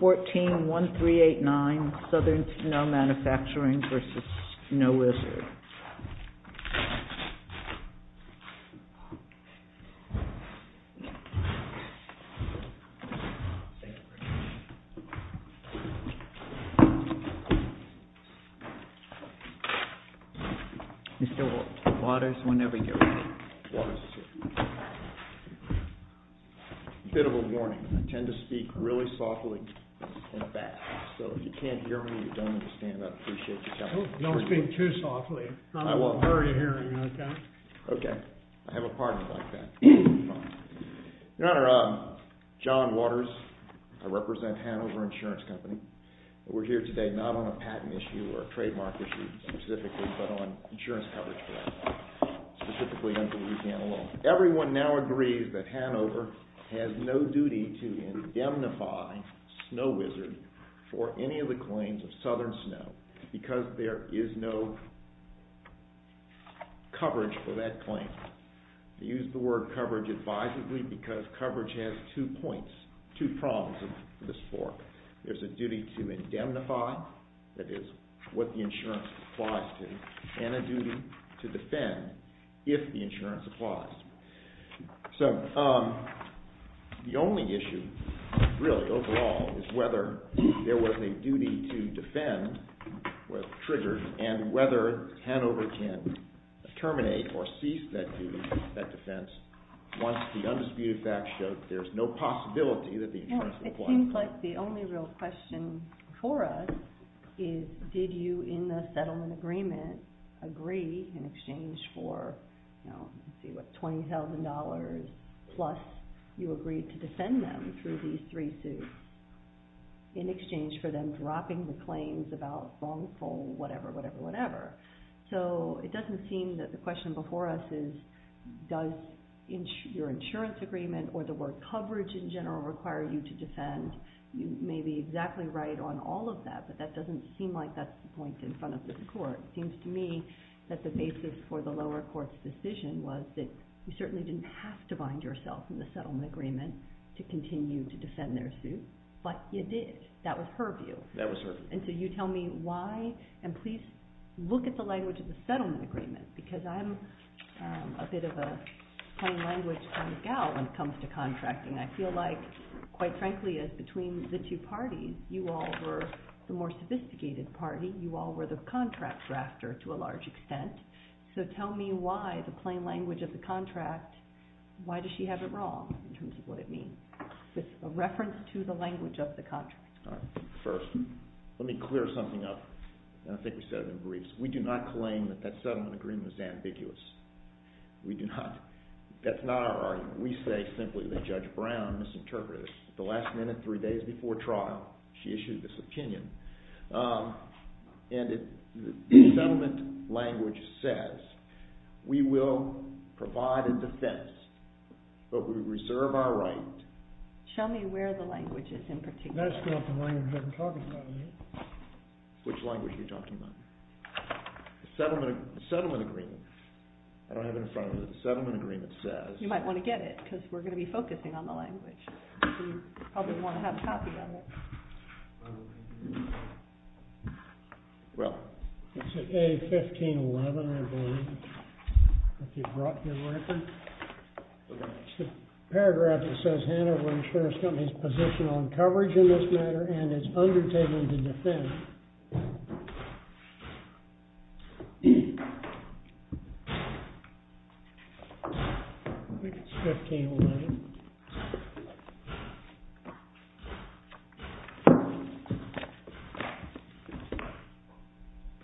141389, Southern Snow Manufacturing versus Snow Wizard. You still want waters whenever you're ready? Waters, too. A bit of a warning. I tend to speak really softly and fast. So if you can't hear me, you don't understand. I appreciate you coming. Don't speak too softly. I'm in a hurry of hearing you, okay? Okay. I have a partner like that. Your Honor, John Waters. I represent Hanover Insurance Company. We're here today not on a patent issue or a trademark issue specifically, but on insurance coverage. Specifically under Louisiana law. Everyone now agrees that Hanover has no duty to indemnify Snow Wizard for any of the claims of Southern Snow because there is no coverage for that claim. I use the word coverage advisedly because coverage has two points, two prongs of this fork. There's a duty to indemnify, that is what the insurance applies to, and a duty to defend if the insurance applies. So the only issue really overall is whether there was any duty to defend was triggered and whether Hanover can terminate or cease that duty, that defense, once the undisputed fact shows there's no possibility that the insurance applies. It seems like the only real question for us is did you in the settlement agreement agree in exchange for $20,000 plus you agreed to defend them through these three suits in exchange for them dropping the claims about phone, phone, whatever, whatever, whatever. So it doesn't seem that the question before us is does your insurance agreement or the word coverage in general require you to defend. You may be exactly right on all of that, but that doesn't seem like that's the point in front of this court. It seems to me that the basis for the lower court's decision was that you certainly didn't have to bind yourself in the settlement agreement to continue to defend their suit, but you did. That was her view. That was her view. And so you tell me why, and please look at the language of the settlement agreement, because I'm a bit of a plain language kind of gal when it comes to contracting. I feel like, quite frankly, as between the two parties, you all were the more sophisticated party. You all were the contract drafter to a large extent. So tell me why the plain language of the contract, why does she have it wrong in terms of what it means with a reference to the language of the contract? First, let me clear something up, and I think we said it in briefs. We do not claim that that settlement agreement is ambiguous. We do not. That's not our argument. We say simply that Judge Brown misinterpreted it. The last minute, three days before trial, she issued this opinion, and the settlement language says we will provide a defense, but we reserve our right. Show me where the language is in particular. That's not the language I'm talking about, is it? Which language are you talking about? The settlement agreement. I don't have it in front of me. The settlement agreement says. You might want to get it, because we're going to be focusing on the language. So you probably want to have a copy of it. Well, it's at A1511, I believe. I think you brought your record. It's the paragraph that says Hanover Insurance Company's position on coverage in this matter and its undertaking to defend. I think it's A1511.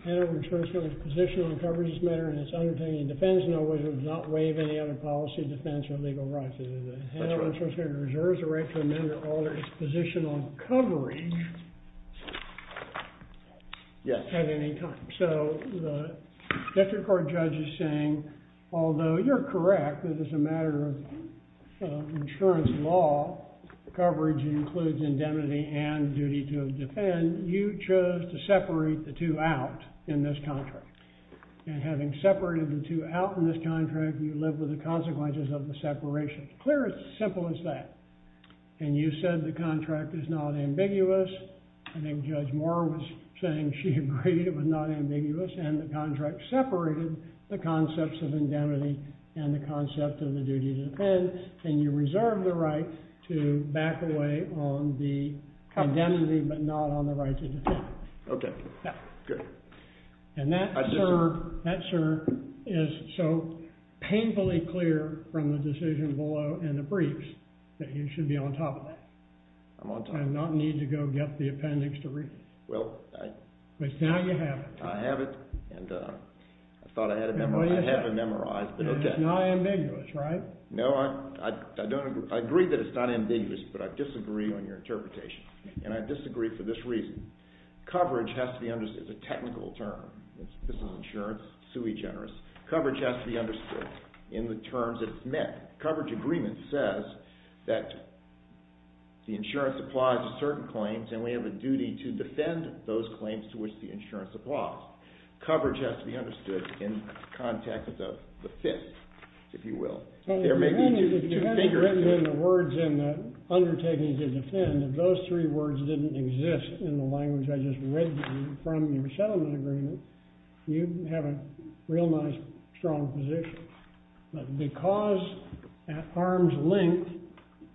Hanover Insurance Company's position on coverage in this matter and its undertaking to defend There is no way to not waive any other policy, defense, or legal rights. Hanover Insurance Company reserves the right to amend or alter its position on coverage at any time. So the Defense Court judge is saying, although you're correct that as a matter of insurance law, coverage includes indemnity and duty to defend, you chose to separate the two out in this contract. And having separated the two out in this contract, you live with the consequences of the separation. Clear and simple as that. And you said the contract is not ambiguous. I think Judge Moore was saying she agreed it was not ambiguous. And the contract separated the concepts of indemnity and the concept of the duty to defend. And you reserve the right to back away on the indemnity, but not on the right to defend. OK. Good. And that, sir, is so painfully clear from the decision below in the briefs that you should be on top of that. I'm on top. And not need to go get the appendix to read it. Well, I... But now you have it. I have it. And I thought I had it memorized. I have it memorized. And it's not ambiguous, right? No, I don't agree. I agree that it's not ambiguous, but I disagree on your interpretation. And I disagree for this reason. Coverage has to be understood. It's a technical term. This is insurance. Sui generis. Coverage has to be understood in the terms that it's met. Coverage agreement says that the insurance applies to certain claims, and we have a duty to defend those claims to which the insurance applies. Coverage has to be understood in the context of the fit, if you will. Well, the thing is, if you hadn't written in the words in the undertaking to defend, if those three words didn't exist in the language I just read to you from your settlement agreement, you'd have a real nice, strong position. But because at arm's length,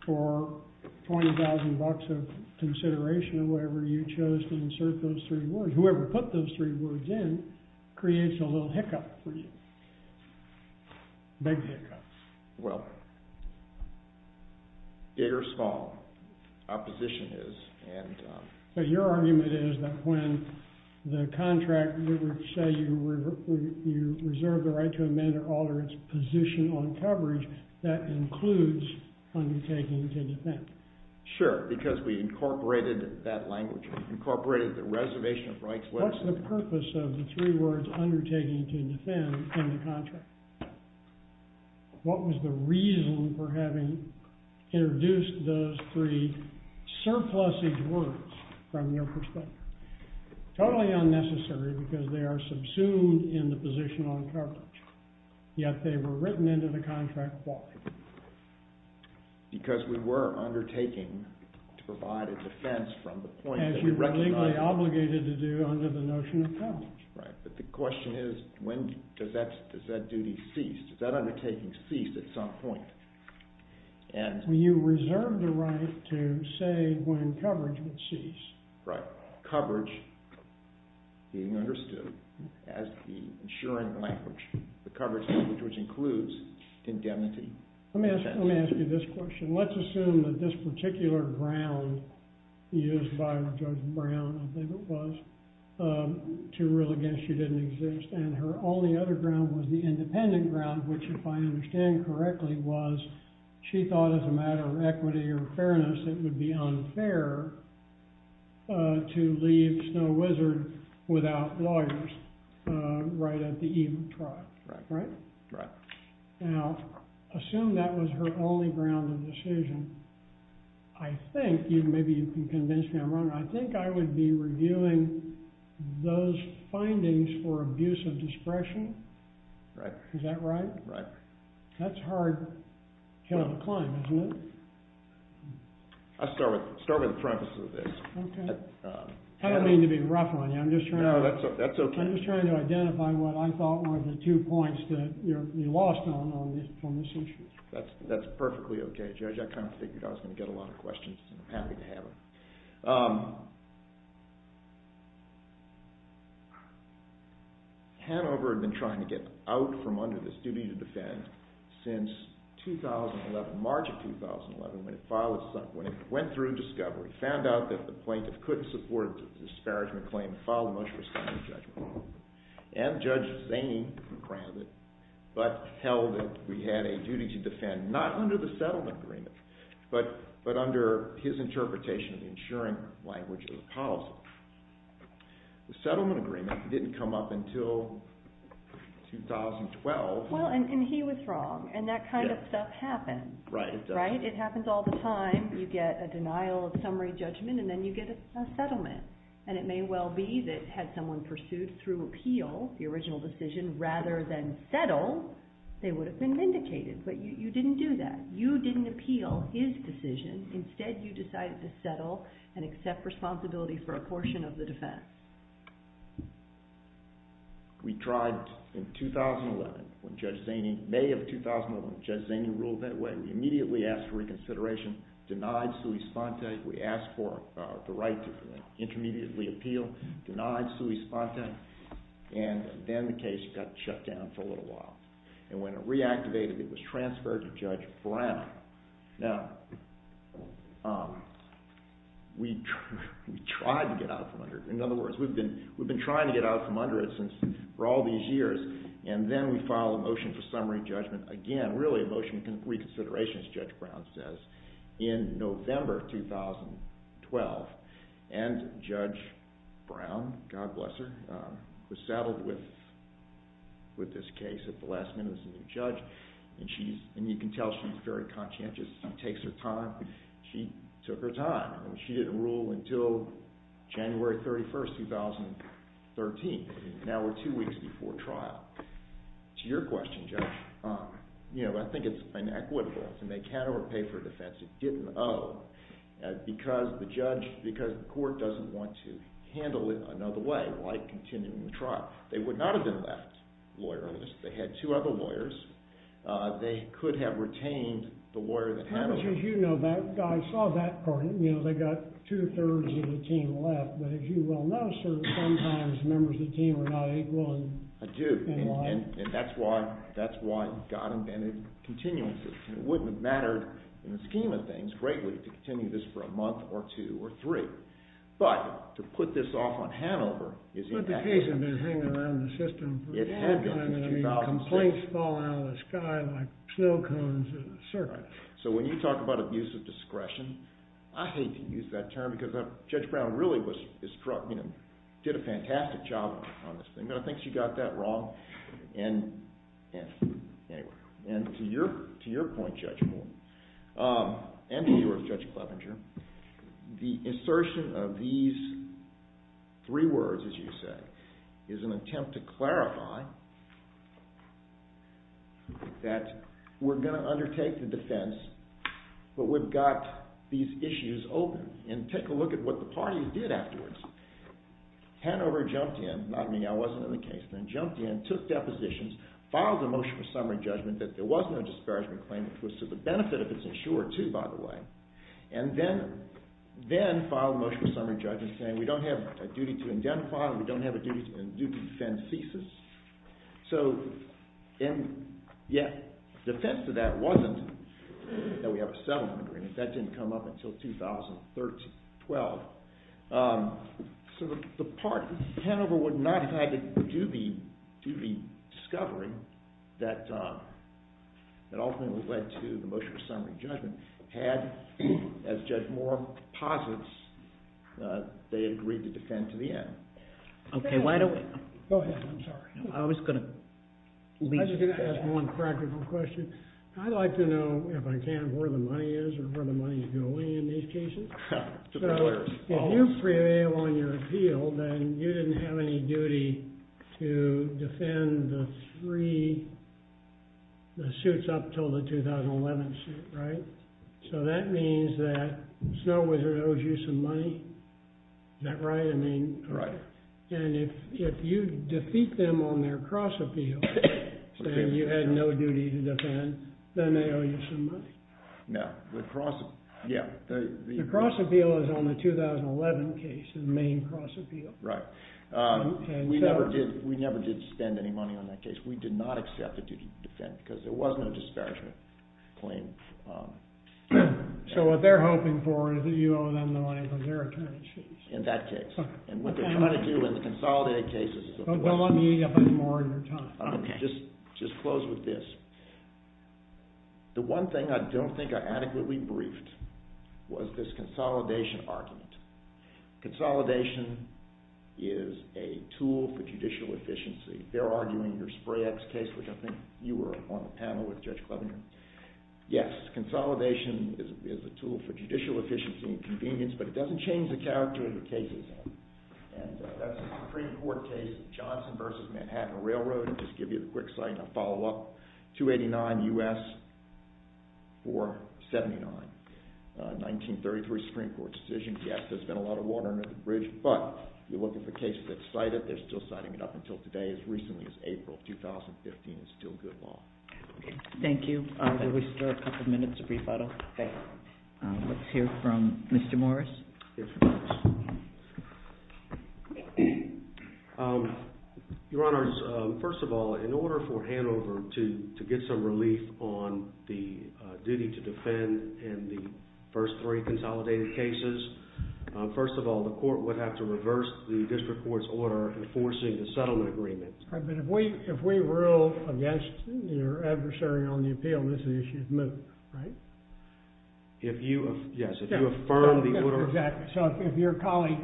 for $20,000 of consideration or whatever, you chose to insert those three words, whoever put those three words in creates a little hiccup for you. Big hiccup. Well, big or small. Opposition is. But your argument is that when the contract would say you reserve the right to amend or alter its position on coverage, that includes undertaking to defend. Sure. Because we incorporated that language. We incorporated the reservation of rights. What's the purpose of the three words undertaking to defend in the contract? What was the reason for having introduced those three surplusage words from your perspective? Totally unnecessary, because they are subsumed in the position on coverage. Yet they were written into the contract. Why? Because we were undertaking to provide a defense from the point that we recognized. As you were legally obligated to do under the notion of coverage. Right. But the question is, when does that duty cease? Does that undertaking cease at some point? You reserve the right to say when coverage would cease. Right. Coverage being understood as the insuring language, the coverage language which includes indemnity. Let me ask you this question. Let's assume that this particular ground used by Judge Brown, I think it was, to rule against you didn't exist. And her only other ground was the independent ground, which, if I understand correctly, was she thought as a matter of equity or fairness it would be unfair to leave Snow Wizard without lawyers right at the eve of trial. Right. Right. Now, assume that was her only ground of decision. I think, maybe you can convince me I'm wrong, I think I would be reviewing those findings for abuse of discretion. Right. Is that right? Right. That's a hard hill to climb, isn't it? I'll start with the preface of this. Okay. I don't mean to be rough on you. No, that's okay. I'm just trying to identify what I thought were the two points that you lost on this issue. That's perfectly okay. Judge, I kind of figured I was going to get a lot of questions, and I'm happy to have them. Hanover had been trying to get out from under this duty to defend since 2011, March of 2011, when it went through discovery, found out that the plaintiff couldn't support the disparagement claim and filed the most restrictive judgment. And Judge Zane granted, but held that we had a duty to defend, not under the settlement agreement, but under his interpretation of the insurance language of the policy. The settlement agreement didn't come up until 2012. Well, and he was wrong, and that kind of stuff happens. Right. Right? It happens all the time. You get a denial of summary judgment, and then you get a settlement. And it may well be that had someone pursued through appeal the original decision, rather than settle, they would have been vindicated. But you didn't do that. You didn't appeal his decision. Instead, you decided to settle and accept responsibility for a portion of the defense. We tried in 2011, when Judge Zane, May of 2011, when Judge Zane ruled that way, we immediately asked for reconsideration, denied sui sponte. We asked for the right to intermediately appeal, denied sui sponte, and then the case got shut down for a little while. And when it reactivated, it was transferred to Judge Brown. Now, we tried to get out from under it. In other words, we've been trying to get out from under it for all these years. And then we filed a motion for summary judgment, again, really a motion for reconsideration, as Judge Brown says, in November 2012. And Judge Brown, God bless her, was saddled with this case at the last minute as a new judge. And you can tell she's very conscientious. She takes her time. She took her time. She didn't rule until January 31, 2013. Now we're two weeks before trial. To your question, Judge, I think it's inequitable to make head or pay for a defense it didn't owe. Because the court doesn't want to handle it another way, like continuing the trial. They would not have been left lawyerless. They had two other lawyers. They could have retained the lawyer that handled it. How much did you know? I saw that part. They got two-thirds of the team left. But as you well know, sir, sometimes members of the team are not equal in life. I do. And that's why God invented continuances. It wouldn't have mattered in the scheme of things greatly to continue this for a month or two or three. But to put this off on Hanover is impactful. But the case had been hanging around the system for a long time. It had been since 2006. Complaints fall out of the sky like snow cones in a circuit. So when you talk about abuse of discretion, I hate to use that term because Judge Brown really did a fantastic job on this thing. I think she got that wrong. And to your point, Judge Moore, and to yours, Judge Clevenger, the assertion of these three words, as you said, is an attempt to clarify that we're going to undertake the defense, but we've got these issues open. And take a look at what the parties did afterwards. Hanover jumped in. Not me, I wasn't in the case. Then jumped in, took depositions, filed a motion for summary judgment that there was no disparagement claim, which was to the benefit if it's insured, too, by the way. And then filed a motion for summary judgment saying we don't have a duty to identify and we don't have a duty to defend thesis. So, and yet defense to that wasn't that we have a settlement agreement. That didn't come up until 2013, 12. So the part Hanover would not have had to do the discovery that ultimately led to the motion for summary judgment had, as Judge Moore posits, they agreed to defend to the end. Okay, why don't we go ahead. I'm sorry. I was going to ask one practical question. I'd like to know, if I can, where the money is or where the money is going in these cases. If you prevail on your appeal, then you didn't have any duty to defend the three, the suits up until the 2011 suit, right? So that means that Snow Wizard owes you some money? Is that right? Right. And if you defeat them on their cross appeal, saying you had no duty to defend, then they owe you some money. No, the cross, yeah. The cross appeal is on the 2011 case, the main cross appeal. Right. We never did, we never did spend any money on that case. We did not accept the duty to defend because there was no disparagement claim. So what they're hoping for is that you owe them the money for their attorney suits. In that case. And what they're trying to do in the consolidated cases. Don't let me eat up any more of your time. Okay. Just close with this. The one thing I don't think I adequately briefed was this consolidation argument. Consolidation is a tool for judicial efficiency. They're arguing your Spray X case, which I think you were on the panel with Judge Clevenger. Yes, consolidation is a tool for judicial efficiency and convenience, but it doesn't change the character of the cases. And that's the Supreme Court case, Johnson v. Manhattan Railroad. I'll just give you a quick follow-up. 289 U.S. 479. 1933 Supreme Court decision. Yes, there's been a lot of water under the bridge, but if you're looking for cases that are cited, they're still signing it up until today, as recently as April 2015. It's still good law. Thank you. Do we still have a couple minutes of rebuttal? Okay. Let's hear from Mr. Morris. Your Honor, first of all, in order for Hanover to get some relief on the duty to defend in the first three consolidated cases, first of all, the court would have to reverse the district court's order enforcing the settlement agreement. All right, but if we rule against your adversary on the appeal, this issue is moved, right? Yes, if you affirm the order. Exactly. So if your colleague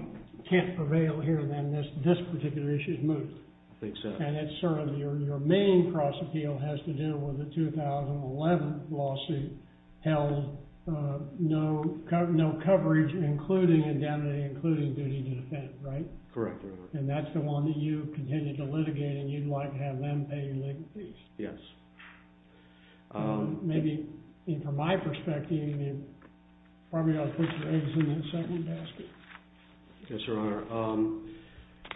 can't prevail here, then this particular issue is moved. I think so. And it's sort of your main cross-appeal has to do with the 2011 lawsuit held no coverage, including indemnity, including duty to defend, right? Correct, Your Honor. And that's the one that you continue to litigate and you'd like to have them pay legal fees. Yes. Maybe from my perspective, you probably ought to put your eggs in that second basket. Yes, Your Honor.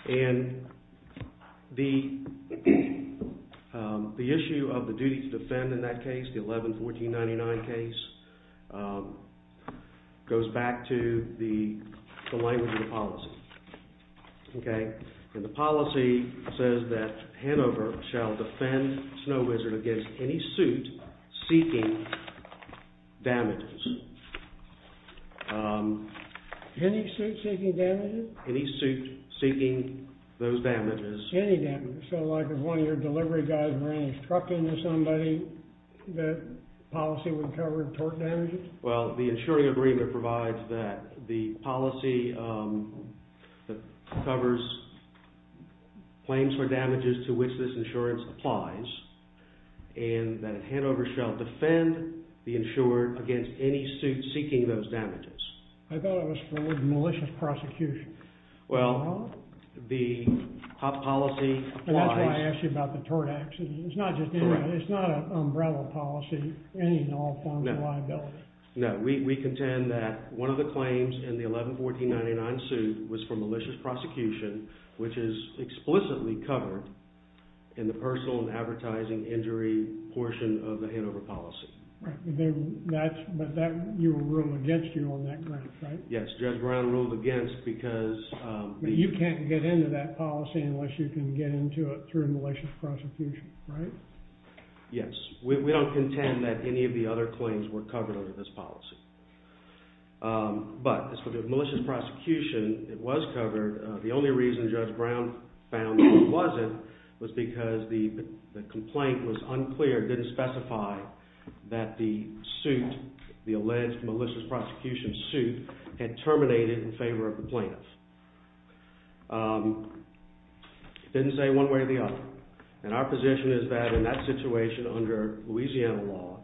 And the issue of the duty to defend in that case, the 11-1499 case, goes back to the language of the policy, okay? And the policy says that Hanover shall defend Snow Wizard against any suit seeking damages. Any suit seeking damages? Any suit seeking those damages. Any damages. So like if one of your delivery guys ran a truck into somebody, the policy would cover tort damages? Well, the insuring agreement provides that the policy covers claims for damages to which this insurance applies, and that Hanover shall defend the insured against any suit seeking those damages. I thought it was for malicious prosecution. Well, the policy applies. And that's why I asked you about the tort accident. It's not just any, it's not an umbrella policy, any and all forms of liability. No, we contend that one of the claims in the 11-1499 suit was for malicious prosecution, which is explicitly covered in the personal and advertising injury portion of the Hanover policy. Right, but that, you will rule against you on that grounds, right? Yes, Judge Brown ruled against because the You can't get into that policy unless you can get into it through malicious prosecution, right? Yes, we don't contend that any of the other claims were covered under this policy. But, as far as malicious prosecution, it was covered. The only reason Judge Brown found that it wasn't was because the complaint was unclear, didn't specify that the suit, the alleged malicious prosecution suit had terminated in favor of the plaintiff. It didn't say one way or the other. And our position is that in that situation, under Louisiana law,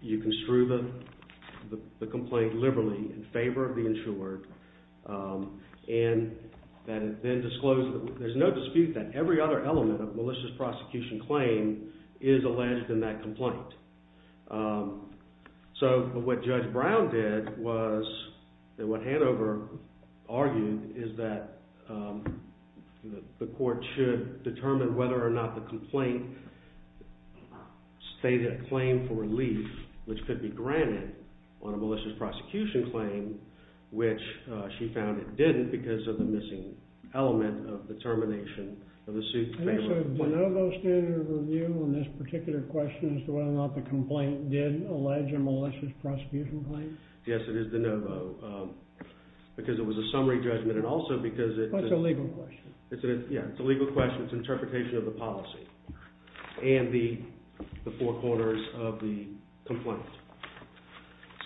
you construe the complaint liberally in favor of the insured. And then disclose, there's no dispute that every other element of malicious prosecution claim is alleged in that complaint. So, what Judge Brown did was, what Hanover argued is that the court should determine whether or not the complaint stated a claim for relief, which could be granted on a malicious prosecution claim, which she found it didn't because of the missing element of the termination of the suit. And is it a de novo standard of review on this particular question as to whether or not the complaint did allege a malicious prosecution claim? Yes, it is de novo. Because it was a summary judgment and also because it's a legal question. Yeah, it's a legal question. It's an interpretation of the policy and the four corners of the complaint.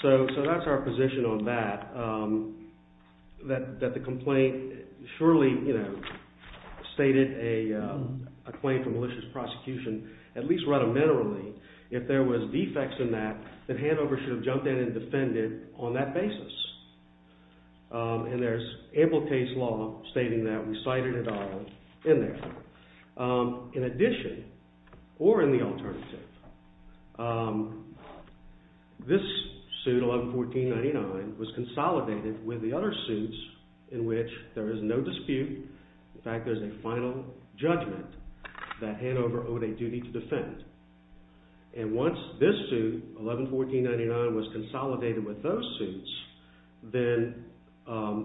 So, that's our position on that, that the complaint surely stated a claim for malicious prosecution at least rudimentarily. If there was defects in that, then Hanover should have jumped in and defended on that basis. And there's ample case law stating that. We cited it all in there. In addition, or in the alternative, this suit 111499 was consolidated with the other suits in which there is no dispute. In fact, there's a final judgment that Hanover owed a duty to defend. And once this suit, 111499, was consolidated with those suits, then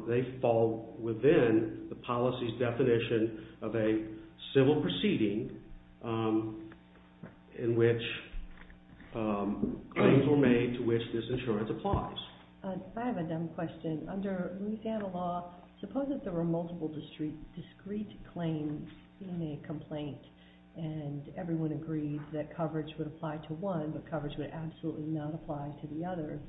they fall within the policy's definition of a civil proceeding in which claims were made to which this insurance applies. I have a dumb question. Under Louisiana law, suppose that there were multiple discrete claims in a complaint and everyone agreed that coverage would apply to one, but coverage would absolutely not apply to the other.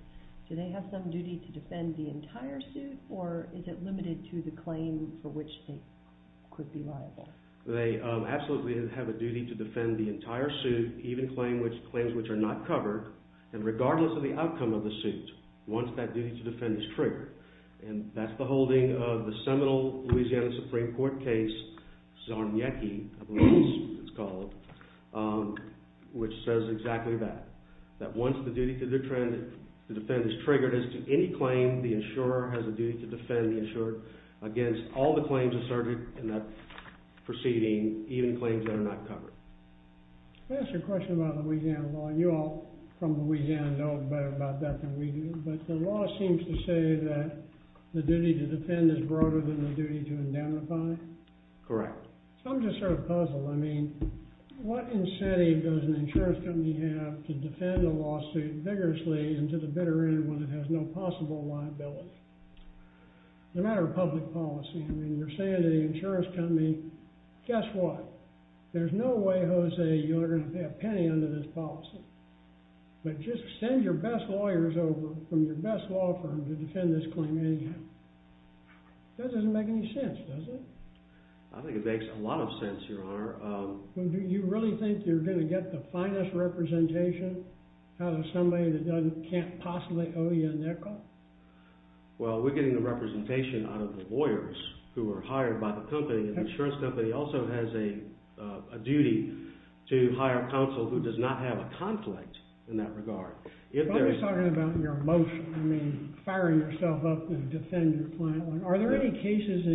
Do they have some duty to defend the entire suit, or is it limited to the claim for which they could be liable? They absolutely have a duty to defend the entire suit, even claims which are not covered. And regardless of the outcome of the suit, once that duty to defend is triggered, and that's the holding of the seminal Louisiana Supreme Court case, Zarniecki, I believe it's called, which says exactly that. That once the duty to defend is triggered as to any claim, the insurer has a duty to defend the insurer against all the claims asserted in that proceeding, even claims that are not covered. Let me ask you a question about Louisiana law. You all from Louisiana know better about that than we do, but the law seems to say that the duty to defend is broader than the duty to indemnify. Correct. So I'm just sort of puzzled. I mean, what incentive does an insurance company have to defend a lawsuit vigorously and to the bitter end when it has no possible liability? As a matter of public policy, I mean, you're saying to the insurance company, guess what? There's no way, Jose, you're going to pay a penny under this policy. But just send your best lawyers over from your best law firm to defend this claim anyhow. That doesn't make any sense, does it? I think it makes a lot of sense, Your Honor. Do you really think you're going to get the finest representation out of somebody that can't possibly owe you a nickel? Well, we're getting the representation out of the lawyers who are hired by the company. The insurance company also has a duty to hire counsel who does not have a conflict in that regard. But I'm just talking about your emotion. I mean, firing yourself up to defend your client. Are there any cases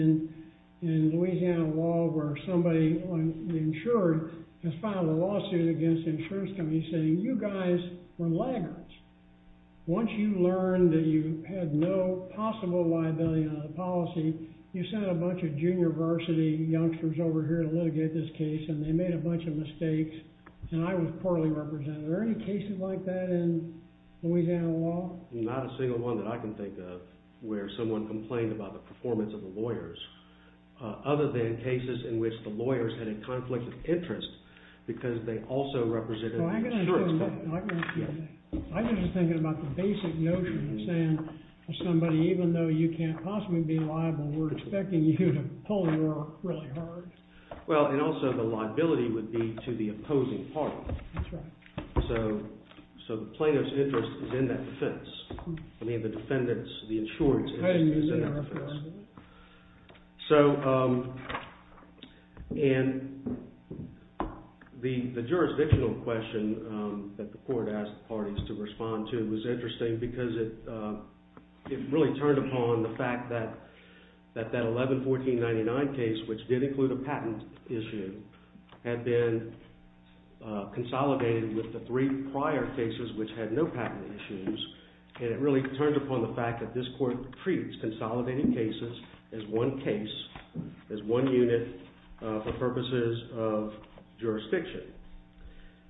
in Louisiana law where somebody, the insurer, has filed a lawsuit against the insurance company saying, you guys were laggards? Once you learned that you had no possible liability under the policy, you sent a bunch of junior varsity youngsters over here to litigate this case, and they made a bunch of mistakes, and I was poorly represented. Are there any cases like that in Louisiana law? Not a single one that I can think of where someone complained about the performance of the lawyers, other than cases in which the lawyers had a conflict of interest because they also represented the insurance company. I'm just thinking about the basic notion of saying to somebody, even though you can't possibly be liable, we're expecting you to pull your really hard. Well, and also the liability would be to the opposing party. So the plaintiff's interest is in that defense. I mean, the defendant's, the insurer's interest is in that defense. So, and the jurisdictional question that the court asked parties to respond to was interesting because it really turned upon the fact that that 11-1499 case, which did include a patent issue, had been consolidated with the three prior cases which had no patent issues, and it really turned upon the fact that this court treats consolidated cases as one case, as one unit, for purposes of jurisdiction.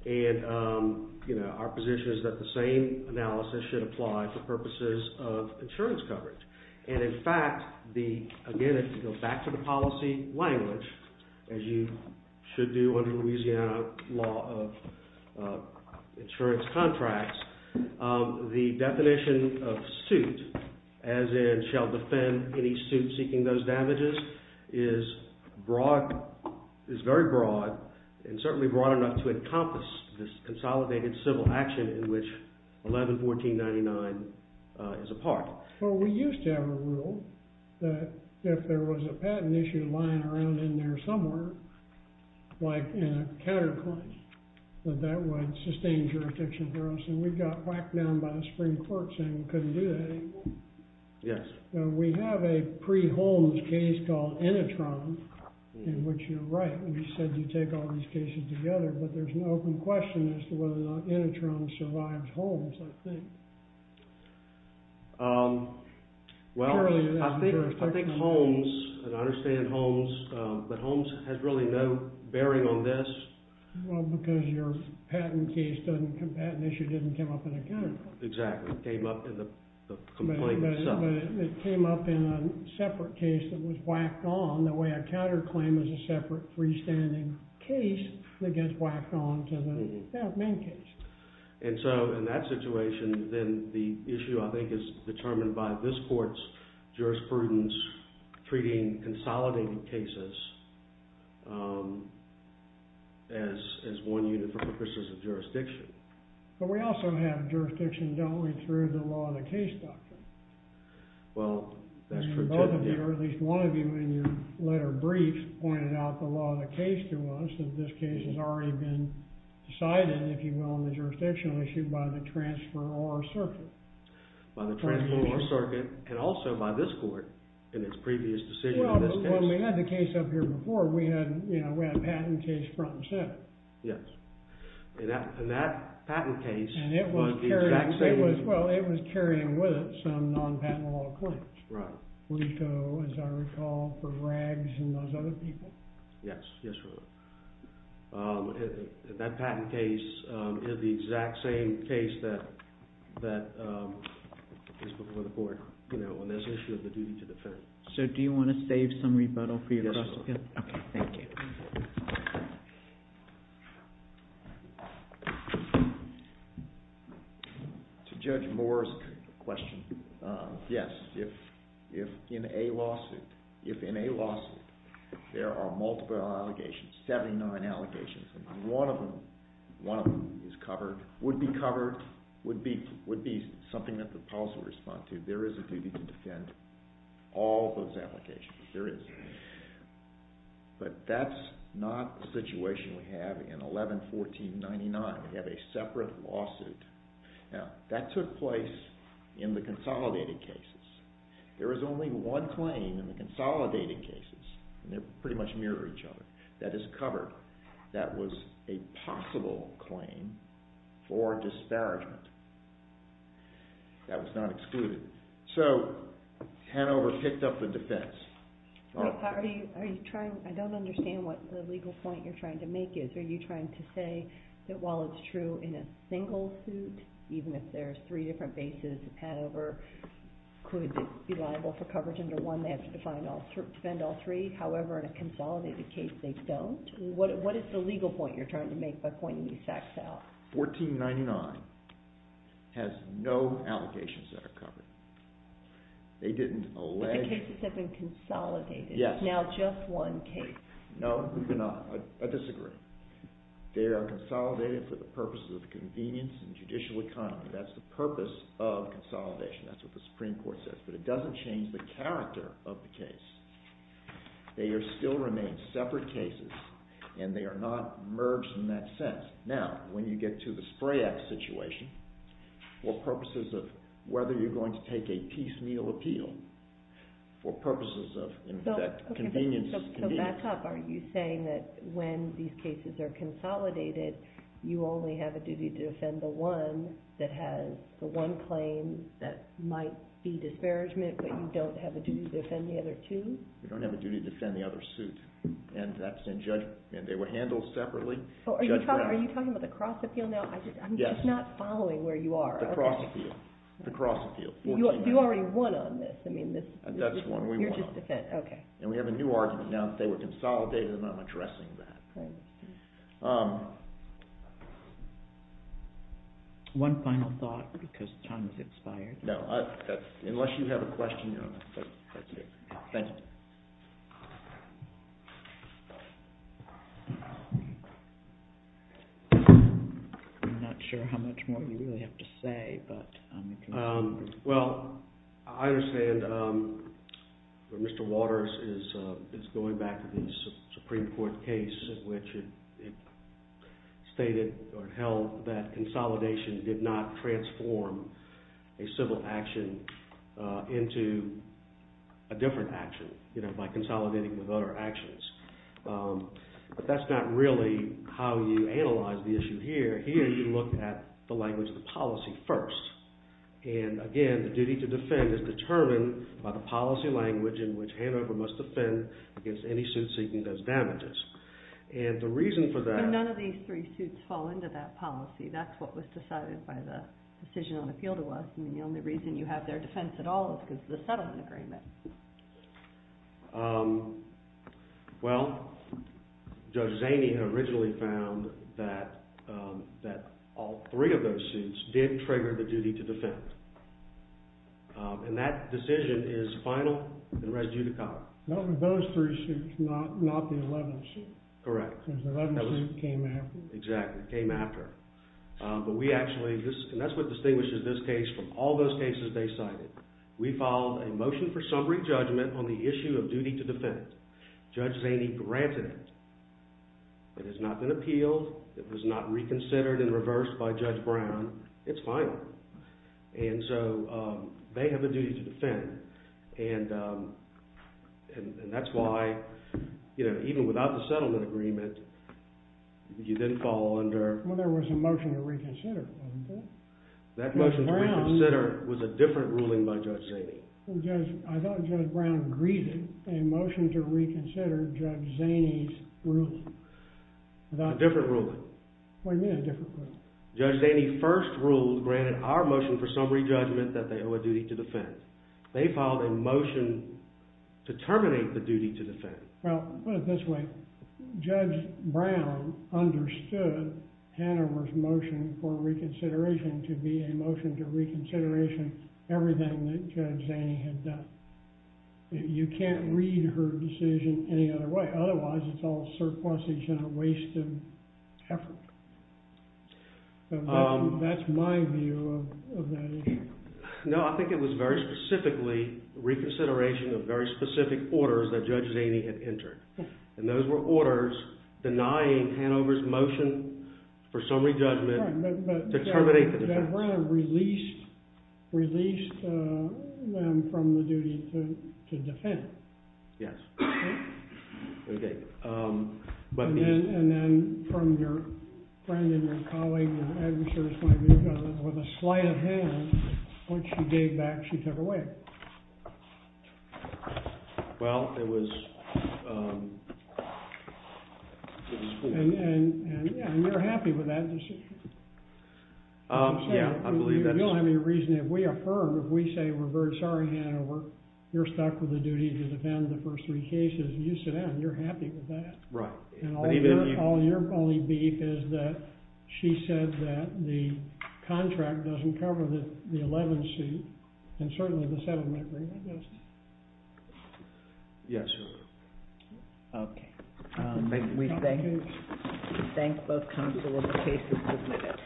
And our position is that the same analysis should apply for purposes of insurance coverage. And in fact, again, if you go back to the policy language, as you should do under Louisiana law of insurance contracts, the definition of suit, as in shall defend any suit seeking those damages, is broad, is very broad, and certainly broad enough to encompass this consolidated civil action in which 11-1499 is a part. Well, we used to have a rule that if there was a patent issue lying around in there somewhere, like in a counterclaim, that that would sustain jurisdiction for us. And we got whacked down by the Supreme Court saying we couldn't do that anymore. Yes. We have a pre-Holmes case called Inetron, in which you're right when you said you take all these cases together, but there's an open question as to whether or not Inetron survives Holmes, I think. Well, I think Holmes, and I understand Holmes, but Holmes has really no bearing on this. Well, because your patent issue didn't come up in a counterclaim. Exactly. It came up in the complaint itself. But it came up in a separate case that was whacked on, the way a counterclaim is a separate freestanding case that gets whacked on to the main case. And so in that situation, then the issue, I think, is determined by this court's jurisprudence treating consolidated cases as one unit for purposes of jurisdiction. But we also have jurisdiction, don't we, through the law of the case doctrine? Well, that's true too. And both of you, or at least one of you in your letter brief, pointed out the law of the case to us, that this case has already been decided, if you will, on the jurisdictional issue by the transferor circuit. By the transferor circuit, and also by this court in its previous decision on this case. Well, when we had the case up here before, we had a patent case front and center. Yes. And that patent case was the exact same. Well, it was carrying with it some non-patent law claims. Right. Leto, as I recall, for rags and those other people. Yes. Yes, Your Honor. That patent case is the exact same case that is before the court on this issue of the duty to defend. So do you want to save some rebuttal for your cross-examination? Yes, Your Honor. Okay. Thank you. To Judge Moore's question, yes. If in a lawsuit, if in a lawsuit there are multiple allegations, 79 allegations, and one of them is covered, would be covered, would be something that the police would respond to, there is a duty to defend all those allegations. There is. But that's not the situation we have in 11-1499. We have a separate lawsuit. Now, that took place in the consolidated cases. There is only one claim in the consolidated cases, and they pretty much mirror each other. That is covered. That was a possible claim for disparagement. That was not excluded. So, Hanover picked up the defense. Are you trying – I don't understand what the legal point you're trying to make is. Are you trying to say that while it's true in a single suit, even if there's three different bases, Hanover could be liable for coverage under one. They have to defend all three. However, in a consolidated case, they don't. What is the legal point you're trying to make by pointing these facts out? 11-1499 has no allegations that are covered. They didn't allege – But the cases have been consolidated. Yes. Now just one case. No, they're not. I disagree. They are consolidated for the purposes of convenience and judicial economy. That's the purpose of consolidation. That's what the Supreme Court says. But it doesn't change the character of the case. They still remain separate cases, and they are not merged in that sense. Now, when you get to the Spray Act situation, for purposes of whether you're going to take a piecemeal appeal, for purposes of convenience – So back up. Are you saying that when these cases are consolidated, you only have a duty to defend the one that has the one claim that might be disparagement, but you don't have a duty to defend the other two? You don't have a duty to defend the other suit, and that's in judgment. And they were handled separately. Are you talking about the cross appeal now? Yes. I'm just not following where you are. The cross appeal. The cross appeal. You already won on this. That's the one we won on. You're just defending. Okay. And we have a new argument now that they were consolidated, and I'm addressing that. One final thought, because time has expired. No. Unless you have a question, you're on. Thank you. Thank you. I'm not sure how much more you really have to say. Well, I understand where Mr. Waters is going back to the Supreme Court case in which it stated or held that consolidation did not transform a civil action into a different action by consolidating with other actions. But that's not really how you analyze the issue here. Here you look at the language of the policy first. And again, the duty to defend is determined by the policy language in which Hanover must defend against any suit seeking those damages. And the reason for that… But none of these three suits fall into that policy. That's what was decided by the decision on appeal to us. And the only reason you have their defense at all is because of the settlement agreement. Well, Judge Zaney originally found that all three of those suits did trigger the duty to defend. And that decision is final and res judicata. None of those three suits, not the 11th suit. Correct. Because the 11th suit came after. Exactly. It came after. But we actually… And that's what distinguishes this case from all those cases they cited. We filed a motion for summary judgment on the issue of duty to defend. Judge Zaney granted it. It has not been appealed. It was not reconsidered and reversed by Judge Brown. It's final. And so they have a duty to defend. And that's why, you know, even without the settlement agreement, you then fall under… Well, there was a motion to reconsider, wasn't there? That motion to reconsider was a different ruling by Judge Zaney. I thought Judge Brown greeted a motion to reconsider Judge Zaney's ruling. A different ruling. What do you mean a different ruling? Judge Zaney first ruled, granted our motion for summary judgment, that they owe a duty to defend. Well, put it this way. Judge Brown understood Hanover's motion for reconsideration to be a motion to reconsideration everything that Judge Zaney had done. You can't read her decision any other way. Otherwise, it's all surpluses and a waste of effort. That's my view of that issue. No, I think it was very specifically reconsideration of very specific orders that Judge Zaney had entered. And those were orders denying Hanover's motion for summary judgment to terminate the defense. But Judge Brown released them from the duty to defend. Yes. Okay. And then from your friend and your colleague, your adversary's point of view, with a slight of hand, once she gave back, she took away. Well, it was… And you're happy with that decision? Yeah, I believe that's… Right. But even if you… Yes, Your Honor. Okay. Thank both counsel and the case is submitted.